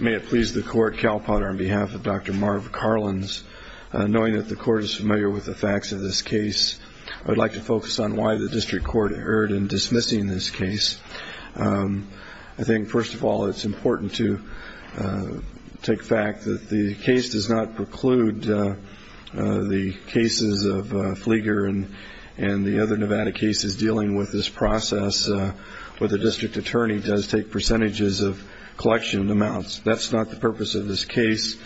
May it please the Court, Cal Potter on behalf of Dr. Marv Carlins, knowing that the Court is familiar with the facts of this case, I would like to focus on why the District Court erred in dismissing this case. I think first of all it's important to take fact that the case does not preclude the cases of Flieger and the other Nevada cases dealing with this process where the District Attorney does take percentages of collection amounts. That's not the purpose of this case.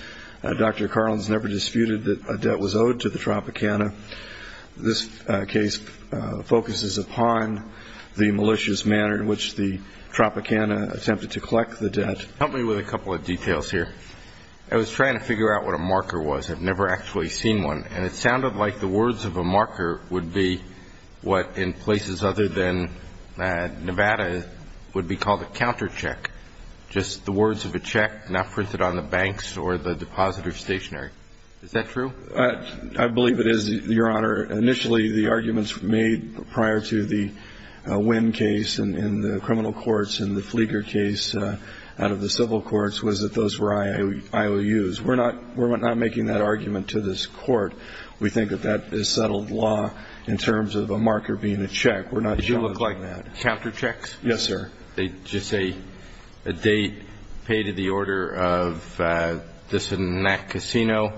Dr. Carlins never disputed that a debt was owed to the Tropicana. This case focuses upon the malicious manner in which the Tropicana attempted to collect the debt. I was trying to figure out what a marker was. I've never actually seen one. And it sounded like the words of a marker would be what in places other than Nevada would be called a countercheck, just the words of a check not printed on the banks or the depository stationary. Is that true? I believe it is, Your Honor. Initially the arguments made prior to the Wynn case in the criminal courts and the Flieger case out of the civil courts was that those were IOUs. We're not making that argument to this Court. We think that that is settled law in terms of a marker being a check. Did you look like that? Yes, sir. Did they just say a date, pay to the order of this and that casino,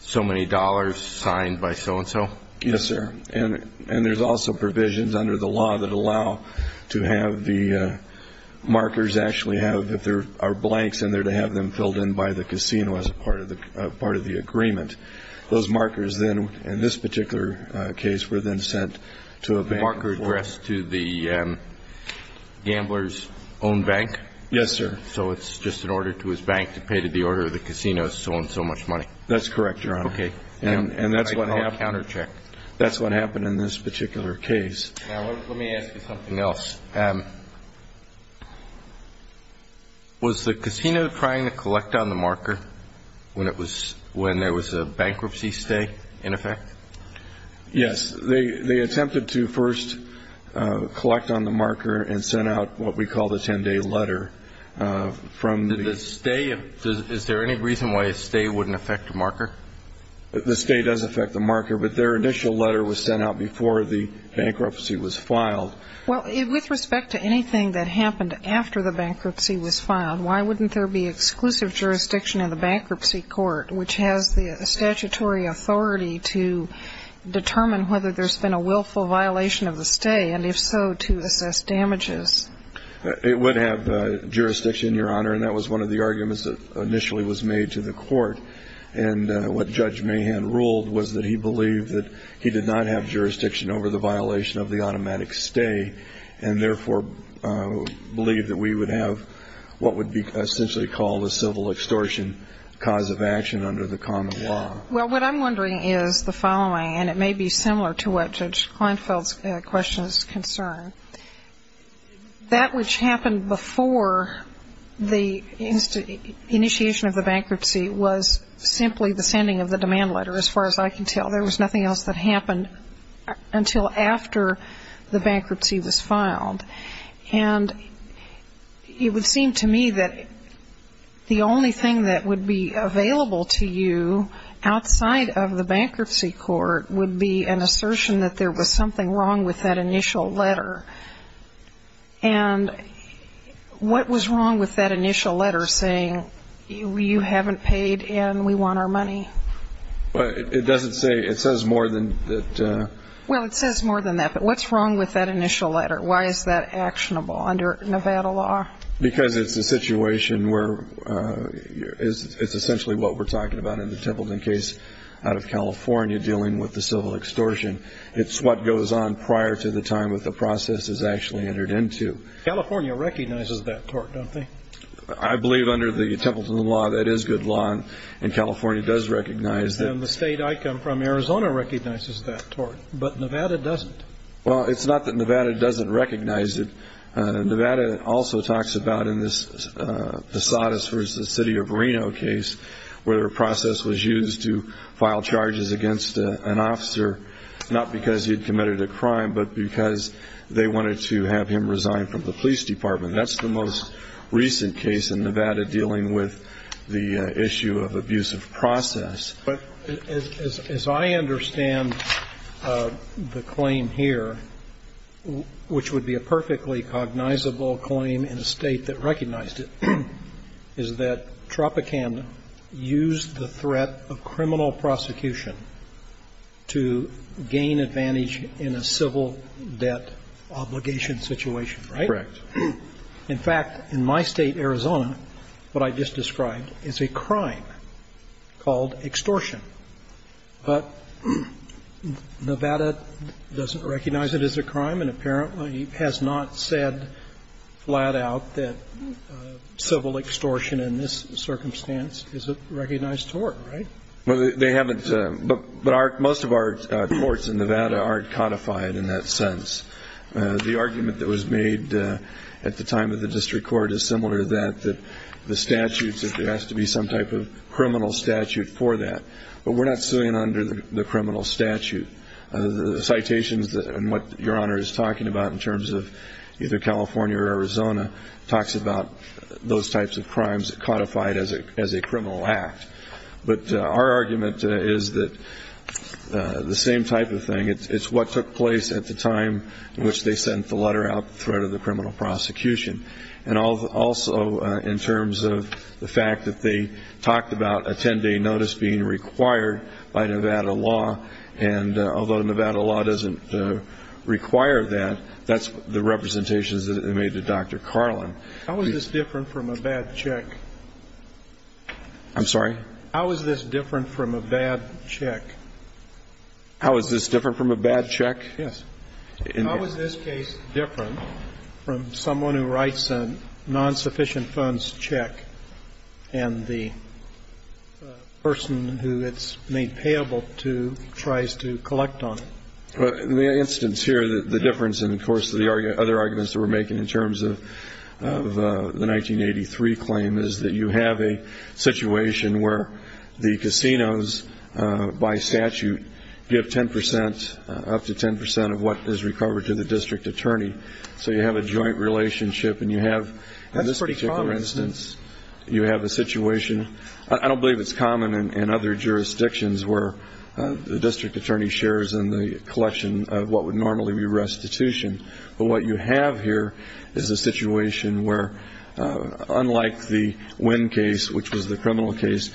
so many dollars, signed by so-and-so? Yes, sir. And there's also provisions under the law that allow to have the markers actually have, if there are blanks in there, to have them filled in by the casino as part of the agreement. And that's what happened in this particular case. Now, let me ask you something else. Was the casino trying to collect on the marker when it was, when there was a blank in there? Yes. They attempted to first collect on the marker and send out what we call the 10-day letter. Did the stay, is there any reason why a stay wouldn't affect a marker? The stay does affect the marker, but their initial letter was sent out before the bankruptcy was filed. Well, with respect to anything that happened after the bankruptcy was filed, why wouldn't there be exclusive jurisdiction in the bankruptcy court, which has the statutory authority to determine whether there's been a willful violation of the stay, and if so, to assess damages? It would have jurisdiction, Your Honor, and that was one of the arguments that initially was made to the court. And what Judge Mahan ruled was that he believed that he did not have jurisdiction over the violation of the automatic stay, and therefore believed that we would have what would be essentially called a civil extortion cause of action under the common law. Well, what I'm wondering is the following, and it may be similar to what Judge Kleinfeld's question is concerned. That which happened before the initiation of the bankruptcy was simply the sending of the demand letter, as far as I can tell. There was nothing else that happened until after the bankruptcy was filed. And it would seem to me that the only thing that would be available to you outside of the bankruptcy court would be an assertion that there was something wrong with that initial letter. And what was wrong with that initial letter saying, you haven't paid and we want our money? It doesn't say. It says more than that. Well, it says more than that, but what's wrong with that initial letter? Why is that actionable under Nevada law? Because it's a situation where it's essentially what we're talking about in the Templeton case out of California dealing with the civil extortion. It's what goes on prior to the time that the process is actually entered into. California recognizes that court, don't they? I believe under the Templeton law that is good law, and California does recognize that. And the state I come from, Arizona, recognizes that tort, but Nevada doesn't. Well, it's not that Nevada doesn't recognize it. Nevada also talks about in this Posadas v. City of Reno case where a process was used to file charges against an officer, not because he had committed a crime but because they wanted to have him resign from the police department. That's the most recent case in Nevada dealing with the issue of abusive process. But as I understand the claim here, which would be a perfectly cognizable claim in a state that recognized it, is that Tropicana used the threat of criminal prosecution to gain advantage in a civil debt obligation situation, right? Correct. In fact, in my state, Arizona, what I just described is a crime called extortion. But Nevada doesn't recognize it as a crime, and apparently has not said flat out that civil extortion in this circumstance is a recognized tort, right? Well, they haven't. But most of our courts in Nevada aren't codified in that sense. The argument that was made at the time of the district court is similar to that, that there has to be some type of criminal statute for that. But we're not suing under the criminal statute. The citations and what Your Honor is talking about in terms of either California or Arizona talks about those types of crimes codified as a criminal act. But our argument is that the same type of thing. It's what took place at the time in which they sent the letter out, the threat of the criminal prosecution. And also in terms of the fact that they talked about a 10-day notice being required by Nevada law, and although Nevada law doesn't require that, that's the representations that they made to Dr. Carlin. How is this different from a bad check? I'm sorry? How is this different from a bad check? How is this different from a bad check? Yes. How is this case different from someone who writes a non-sufficient funds check and the person who it's made payable to tries to collect on it? In the instance here, the difference, and of course the other arguments that we're making in terms of the 1983 claim, is that you have a situation where the casinos by statute give 10 percent, up to 10 percent, of what is recovered to the district attorney. So you have a joint relationship and you have, in this particular instance, you have a situation. I don't believe it's common in other jurisdictions where the district attorney shares in the collection of what would normally be restitution. But what you have here is a situation where, unlike the Wynn case, which was the criminal case,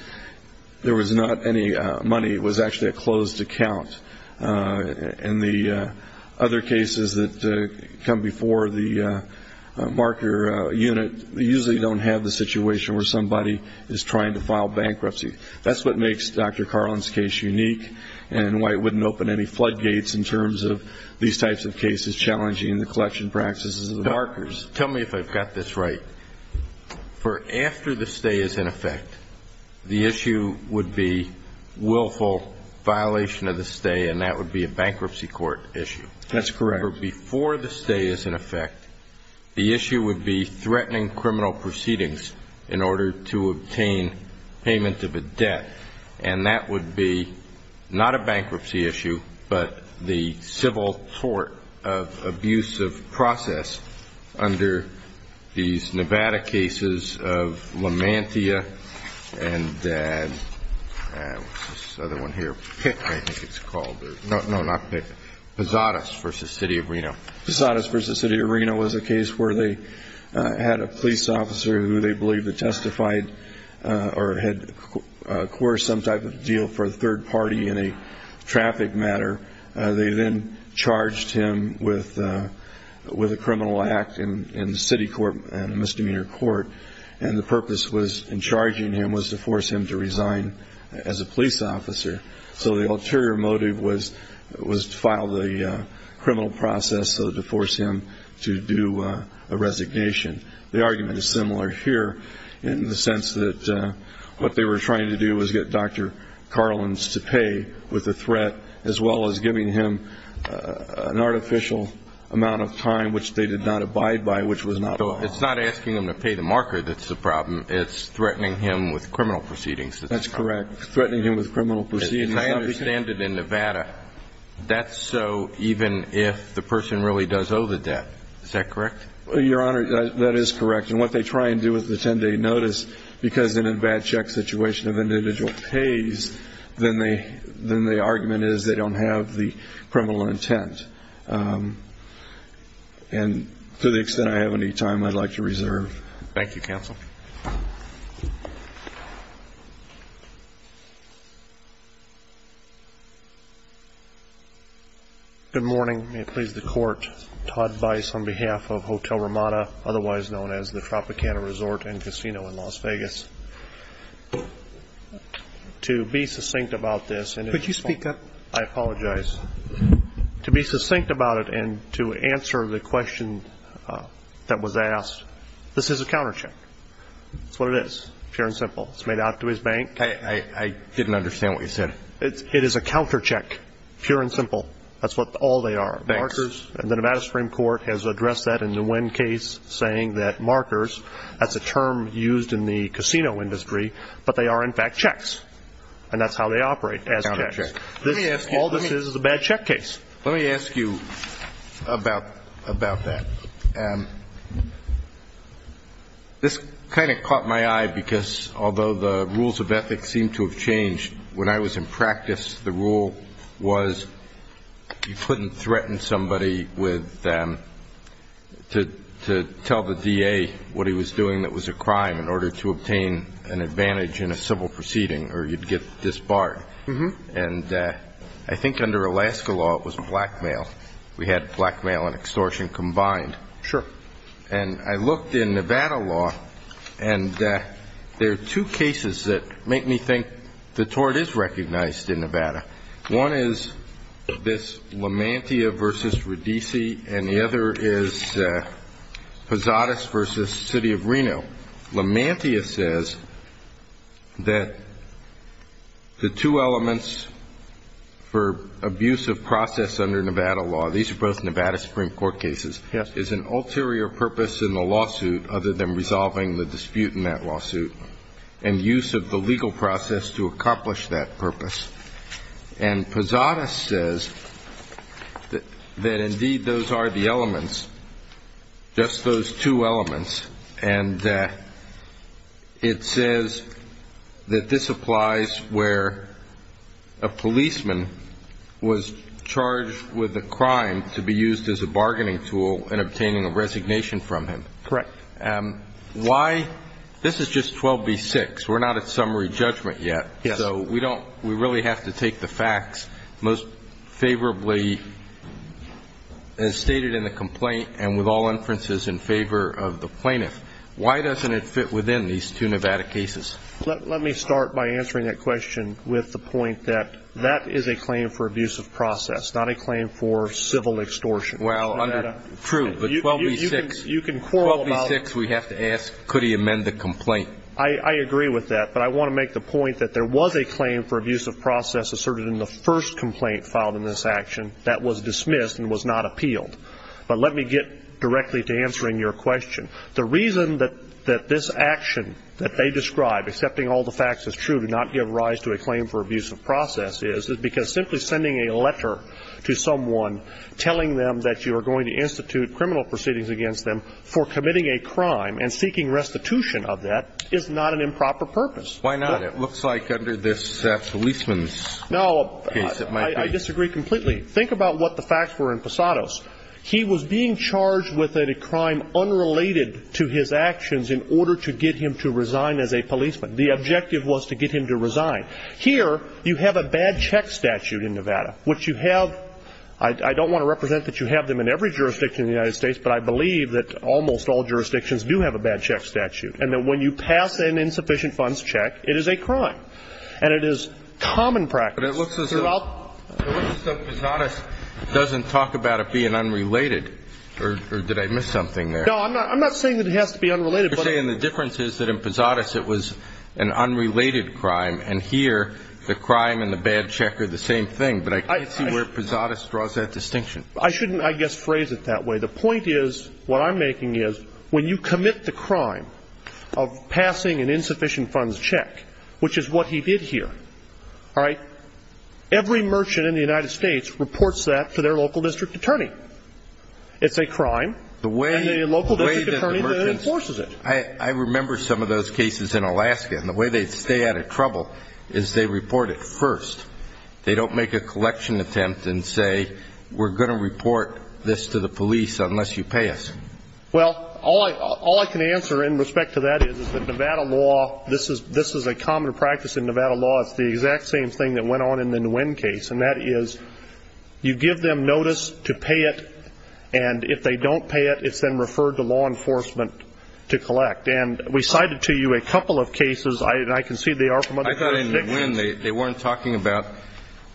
there was not any money. It was actually a closed account. And the other cases that come before the marker unit usually don't have the situation where somebody is trying to file bankruptcy. That's what makes Dr. Carlin's case unique, and why it wouldn't open any floodgates in terms of these types of cases challenging the collection practices of the markers. Tell me if I've got this right. For after the stay is in effect, the issue would be willful violation of the stay, and that would be a bankruptcy court issue. That's correct. For before the stay is in effect, the issue would be threatening criminal proceedings in order to obtain payment of a debt, and that would be not a bankruptcy issue, but the civil court of abuse of process under these Nevada cases of LaMantia and this other one here. Pitt, I think it's called. No, not Pitt. Posadas v. City Arena was a case where they had a police officer who they believed had testified or had coerced some type of deal for a third party in a traffic matter. They then charged him with a criminal act in the city court and a misdemeanor court, and the purpose in charging him was to force him to resign as a police officer. So the ulterior motive was to file the criminal process to force him to do a resignation. The argument is similar here in the sense that what they were trying to do was get Dr. Carlins to pay with a threat as well as giving him an artificial amount of time, which they did not abide by, which was not allowed. So it's not asking him to pay the marker that's the problem. It's threatening him with criminal proceedings. That's correct. Threatening him with criminal proceedings. I understand that in Nevada that's so even if the person really does owe the debt. Is that correct? Your Honor, that is correct. And what they try and do with the 10-day notice because in a bad check situation if an individual pays, then the argument is they don't have the criminal intent. And to the extent I have any time, I'd like to reserve. Thank you, counsel. Good morning. May it please the Court. Todd Bice on behalf of Hotel Ramada, otherwise known as the Tropicana Resort and Casino in Las Vegas. To be succinct about this. Could you speak up? I apologize. To be succinct about it and to answer the question that was asked, this is a countercheck. That's what it is, fair and simple. It's made out to his bank. I didn't understand what you said. It is a countercheck, pure and simple. That's what all they are. Bankers. And the Nevada Supreme Court has addressed that in the Nguyen case saying that markers, that's a term used in the casino industry, but they are, in fact, checks. And that's how they operate, as checks. All this is is a bad check case. Let me ask you about that. This kind of caught my eye because, although the rules of ethics seem to have changed, when I was in practice, the rule was you couldn't threaten somebody with to tell the DA what he was doing that was a crime in order to obtain an advantage in a civil proceeding or you'd get disbarred. And I think under Alaska law it was blackmail. We had blackmail and extortion combined. Sure. And I looked in Nevada law and there are two cases that make me think the tort is recognized in Nevada. One is this Lamantia v. Radice and the other is Posadas v. City of Reno. Lamantia says that the two elements for abuse of process under Nevada law, these are both Nevada Supreme Court cases, is an ulterior purpose in the lawsuit other than resolving the dispute in that lawsuit and use of the legal process to accomplish that purpose. And Posadas says that, indeed, those are the elements, just those two elements, and it says that this applies where a policeman was charged with a crime to be used as a bargaining tool in obtaining a resignation from him. Correct. Why? This is just 12b-6. We're not at summary judgment yet. Yes. So we don't we really have to take the facts most favorably as stated in the complaint and with all inferences in favor of the plaintiff. Why doesn't it fit within these two Nevada cases? Let me start by answering that question with the point that that is a claim for abuse of process, not a claim for civil extortion. Well, true, but 12b-6 we have to ask could he amend the complaint. I agree with that, but I want to make the point that there was a claim for abuse of process asserted in the first complaint filed in this action that was dismissed and was not appealed. But let me get directly to answering your question. The reason that this action that they describe, accepting all the facts as true to not give rise to a claim for abuse of process, is because simply sending a letter to someone telling them that you are going to institute criminal proceedings against them for committing a crime and seeking restitution of that is not an improper purpose. Why not? It looks like under this policeman's case it might be. No, I disagree completely. Think about what the facts were in Posados. He was being charged with a crime unrelated to his actions in order to get him to resign as a policeman. The objective was to get him to resign. Here you have a bad check statute in Nevada, which you have. I don't want to represent that you have them in every jurisdiction in the United States, but I believe that almost all jurisdictions do have a bad check statute, and that when you pass an insufficient funds check, it is a crime, and it is common practice. But it looks as though Posados doesn't talk about it being unrelated. Or did I miss something there? No, I'm not saying that it has to be unrelated. You're saying the difference is that in Posados it was an unrelated crime, and here the crime and the bad check are the same thing. But I can't see where Posados draws that distinction. I shouldn't, I guess, phrase it that way. The point is, what I'm making is, when you commit the crime of passing an insufficient funds check, which is what he did here, all right, every merchant in the United States reports that to their local district attorney. It's a crime, and the local district attorney enforces it. I remember some of those cases in Alaska, and the way they stay out of trouble is they report it first. They don't make a collection attempt and say, we're going to report this to the police unless you pay us. Well, all I can answer in respect to that is that Nevada law, this is a common practice in Nevada law, it's the exact same thing that went on in the Nguyen case, and that is you give them notice to pay it, and if they don't pay it, it's then referred to law enforcement to collect. And we cited to you a couple of cases, and I can see they are from other jurisdictions. I thought in Nguyen they weren't talking about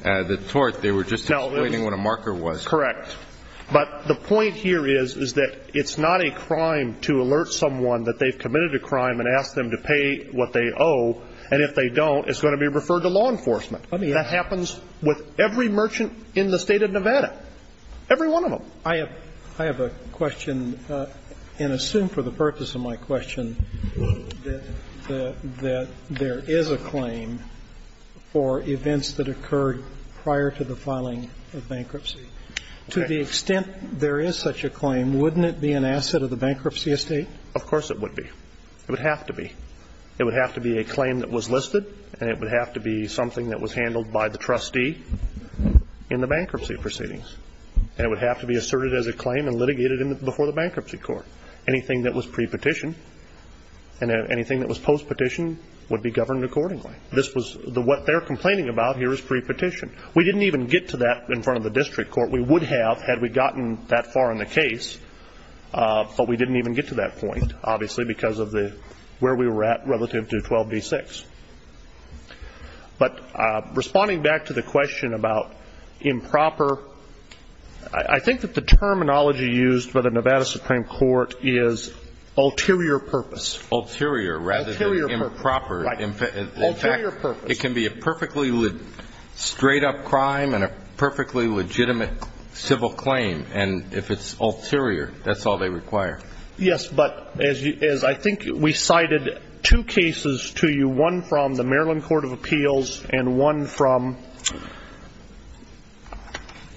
the tort, they were just explaining what a marker was. Correct. Correct. But the point here is, is that it's not a crime to alert someone that they've committed a crime and ask them to pay what they owe, and if they don't it's going to be referred to law enforcement. That happens with every merchant in the State of Nevada, every one of them. I have a question, and assume for the purpose of my question that there is a claim for events that occurred prior to the filing of bankruptcy. To the extent there is such a claim, wouldn't it be an asset of the bankruptcy estate? Of course it would be. It would have to be. It would have to be a claim that was listed, and it would have to be something that was handled by the trustee in the bankruptcy proceedings. And it would have to be asserted as a claim and litigated before the bankruptcy court. Anything that was pre-petition and anything that was post-petition would be governed accordingly. This was the what they're complaining about here is pre-petition. We didn't even get to that in front of the district court. We would have had we gotten that far in the case, but we didn't even get to that point, obviously, because of where we were at relative to 12b-6. But responding back to the question about improper, I think that the terminology used by the Nevada Supreme Court is ulterior purpose. Ulterior rather than improper. Ulterior purpose. It can be a perfectly straight-up crime and a perfectly legitimate civil claim. And if it's ulterior, that's all they require. Yes, but as I think we cited two cases to you, one from the Maryland Court of Appeals and one from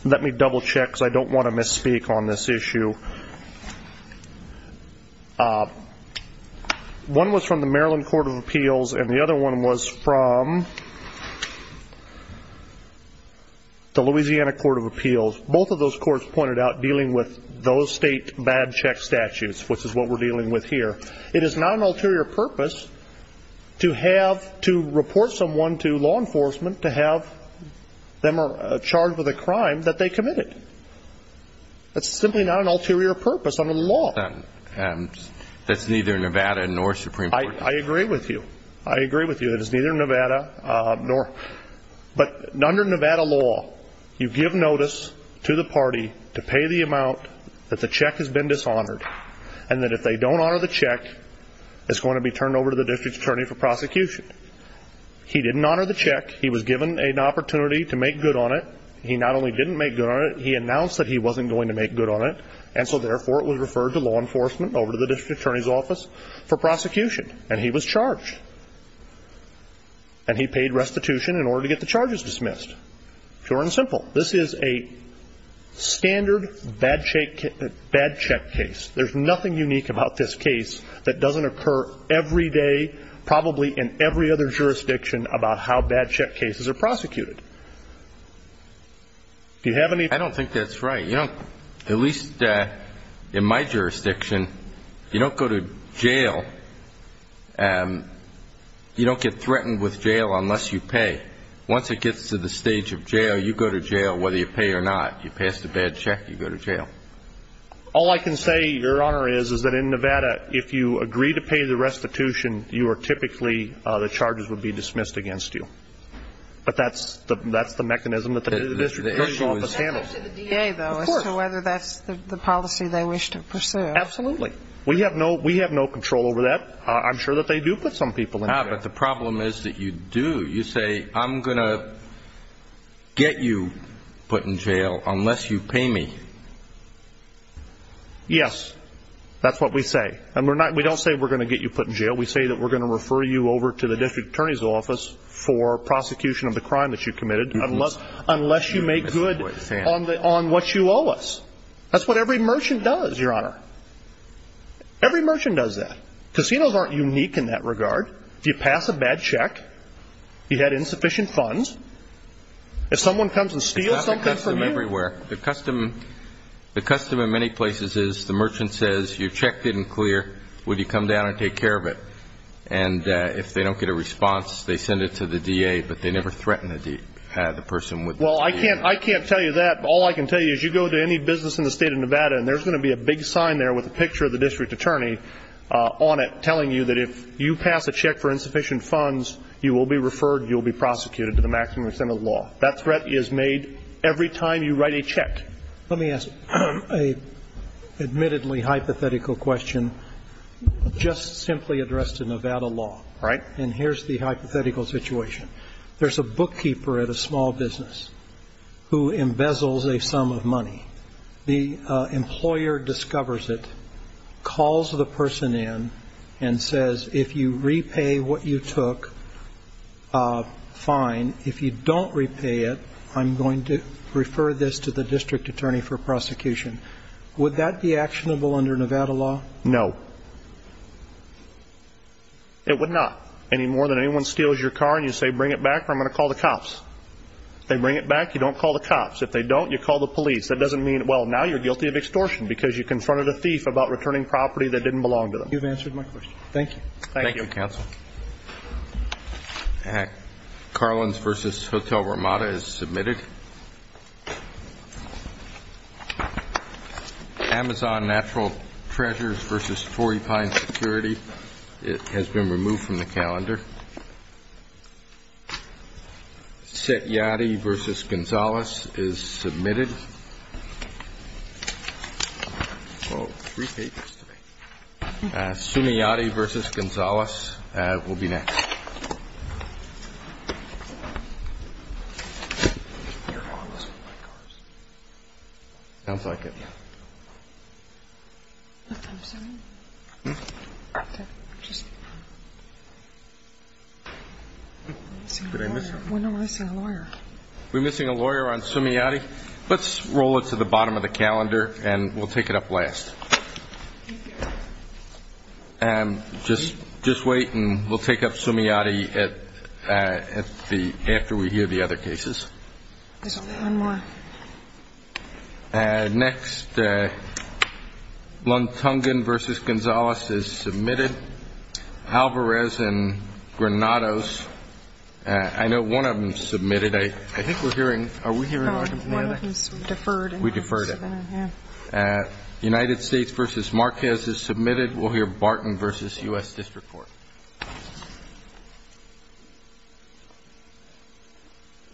let me double-check because I don't want to misspeak on this issue. One was from the Maryland Court of Appeals and the other one was from the Louisiana Court of Appeals. Both of those courts pointed out dealing with those state bad check statutes, which is what we're dealing with here. It is not an ulterior purpose to have to report someone to law enforcement to have them charged with a crime that they committed. That's simply not an ulterior purpose under the law. That's neither Nevada nor Supreme Court. I agree with you. I agree with you. It is neither Nevada nor. But under Nevada law, you give notice to the party to pay the amount that the check has been dishonored and that if they don't honor the check, it's going to be turned over to the district attorney for prosecution. He didn't honor the check. He was given an opportunity to make good on it. He not only didn't make good on it, he announced that he wasn't going to make good on it, and so therefore it was referred to law enforcement over to the district attorney's office for prosecution, and he was charged. And he paid restitution in order to get the charges dismissed. Pure and simple. This is a standard bad check case. There's nothing unique about this case that doesn't occur every day, probably in every other jurisdiction, about how bad check cases are prosecuted. I don't think that's right. At least in my jurisdiction, you don't go to jail, you don't get threatened with jail unless you pay. Once it gets to the stage of jail, you go to jail whether you pay or not. You pass the bad check, you go to jail. All I can say, Your Honor, is that in Nevada, if you agree to pay the restitution, you are typically the charges would be dismissed against you. But that's the mechanism that the district attorney's office handles. It's up to the DA, though, as to whether that's the policy they wish to pursue. Absolutely. We have no control over that. I'm sure that they do put some people in jail. Ah, but the problem is that you do. You say, I'm going to get you put in jail unless you pay me. Yes. That's what we say. And we don't say we're going to get you put in jail. We say that we're going to refer you over to the district attorney's office for prosecution of the crime that you committed unless you make good on what you owe us. That's what every merchant does, Your Honor. Every merchant does that. Casinos aren't unique in that regard. If you pass a bad check, if you had insufficient funds, if someone comes and steals something from you. It's not a custom everywhere. The custom in many places is the merchant says, you checked it in clear, would you come down and take care of it? And if they don't get a response, they send it to the DA, but they never threaten the person with the DA. Well, I can't tell you that. All I can tell you is you go to any business in the state of Nevada, and there's going to be a big sign there with a picture of the district attorney on it telling you that if you pass a check for insufficient funds, you will be referred, you will be prosecuted to the maximum extent of the law. That threat is made every time you write a check. Let me ask an admittedly hypothetical question just simply addressed in Nevada law. All right. And here's the hypothetical situation. There's a bookkeeper at a small business who embezzles a sum of money. The employer discovers it, calls the person in, and says, if you repay what you took, fine. If you don't repay it, I'm going to refer this to the district attorney for prosecution. Would that be actionable under Nevada law? No. It would not, any more than anyone steals your car and you say, bring it back or I'm going to call the cops. If they bring it back, you don't call the cops. If they don't, you call the police. That doesn't mean, well, now you're guilty of extortion because you confronted a thief about returning property that didn't belong to them. You've answered my question. Thank you. Thank you, counsel. Carlins v. Hotel Ramada is submitted. Amazon Natural Treasures v. Forty Pines Security has been removed from the calendar. Citiati v. Gonzales is submitted. Oh, three papers to me. Citiati v. Gonzales will be next. We're missing a lawyer on Citiati. Let's roll it to the bottom of the calendar and we'll take it up last. Just wait and we'll take up Citiati after we hear the other cases. There's only one more. Next, Luntungen v. Gonzales is submitted. Alvarez and Granados, I know one of them is submitted. I think we're hearing, are we hearing argument in the other? One of them is deferred. We deferred it. United States v. Marquez is submitted. We'll hear Barton v. U.S. District Court.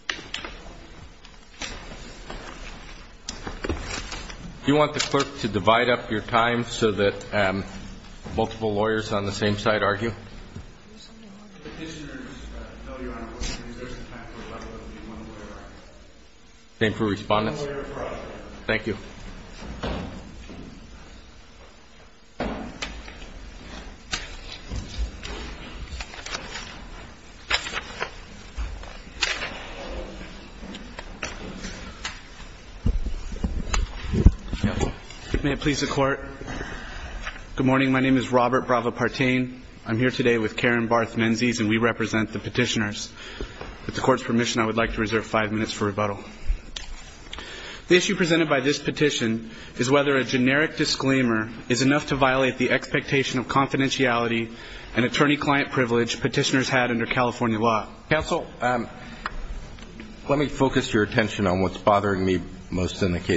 Do you want the clerk to divide up your time so that multiple lawyers on the same side argue? Same for respondents? Thank you. May it please the Court. Good morning. My name is Robert Brava-Partain. I'm here today with Karen Barth-Menzies and we represent the petitioners. With the Court's permission, I would like to reserve five minutes for rebuttal. The issue presented by this petition is whether a generic disclaimer is enough to violate the expectation of confidentiality and attorney-client privilege petitioners had under California law. Counsel, let me focus your attention on what's bothering me most in the case.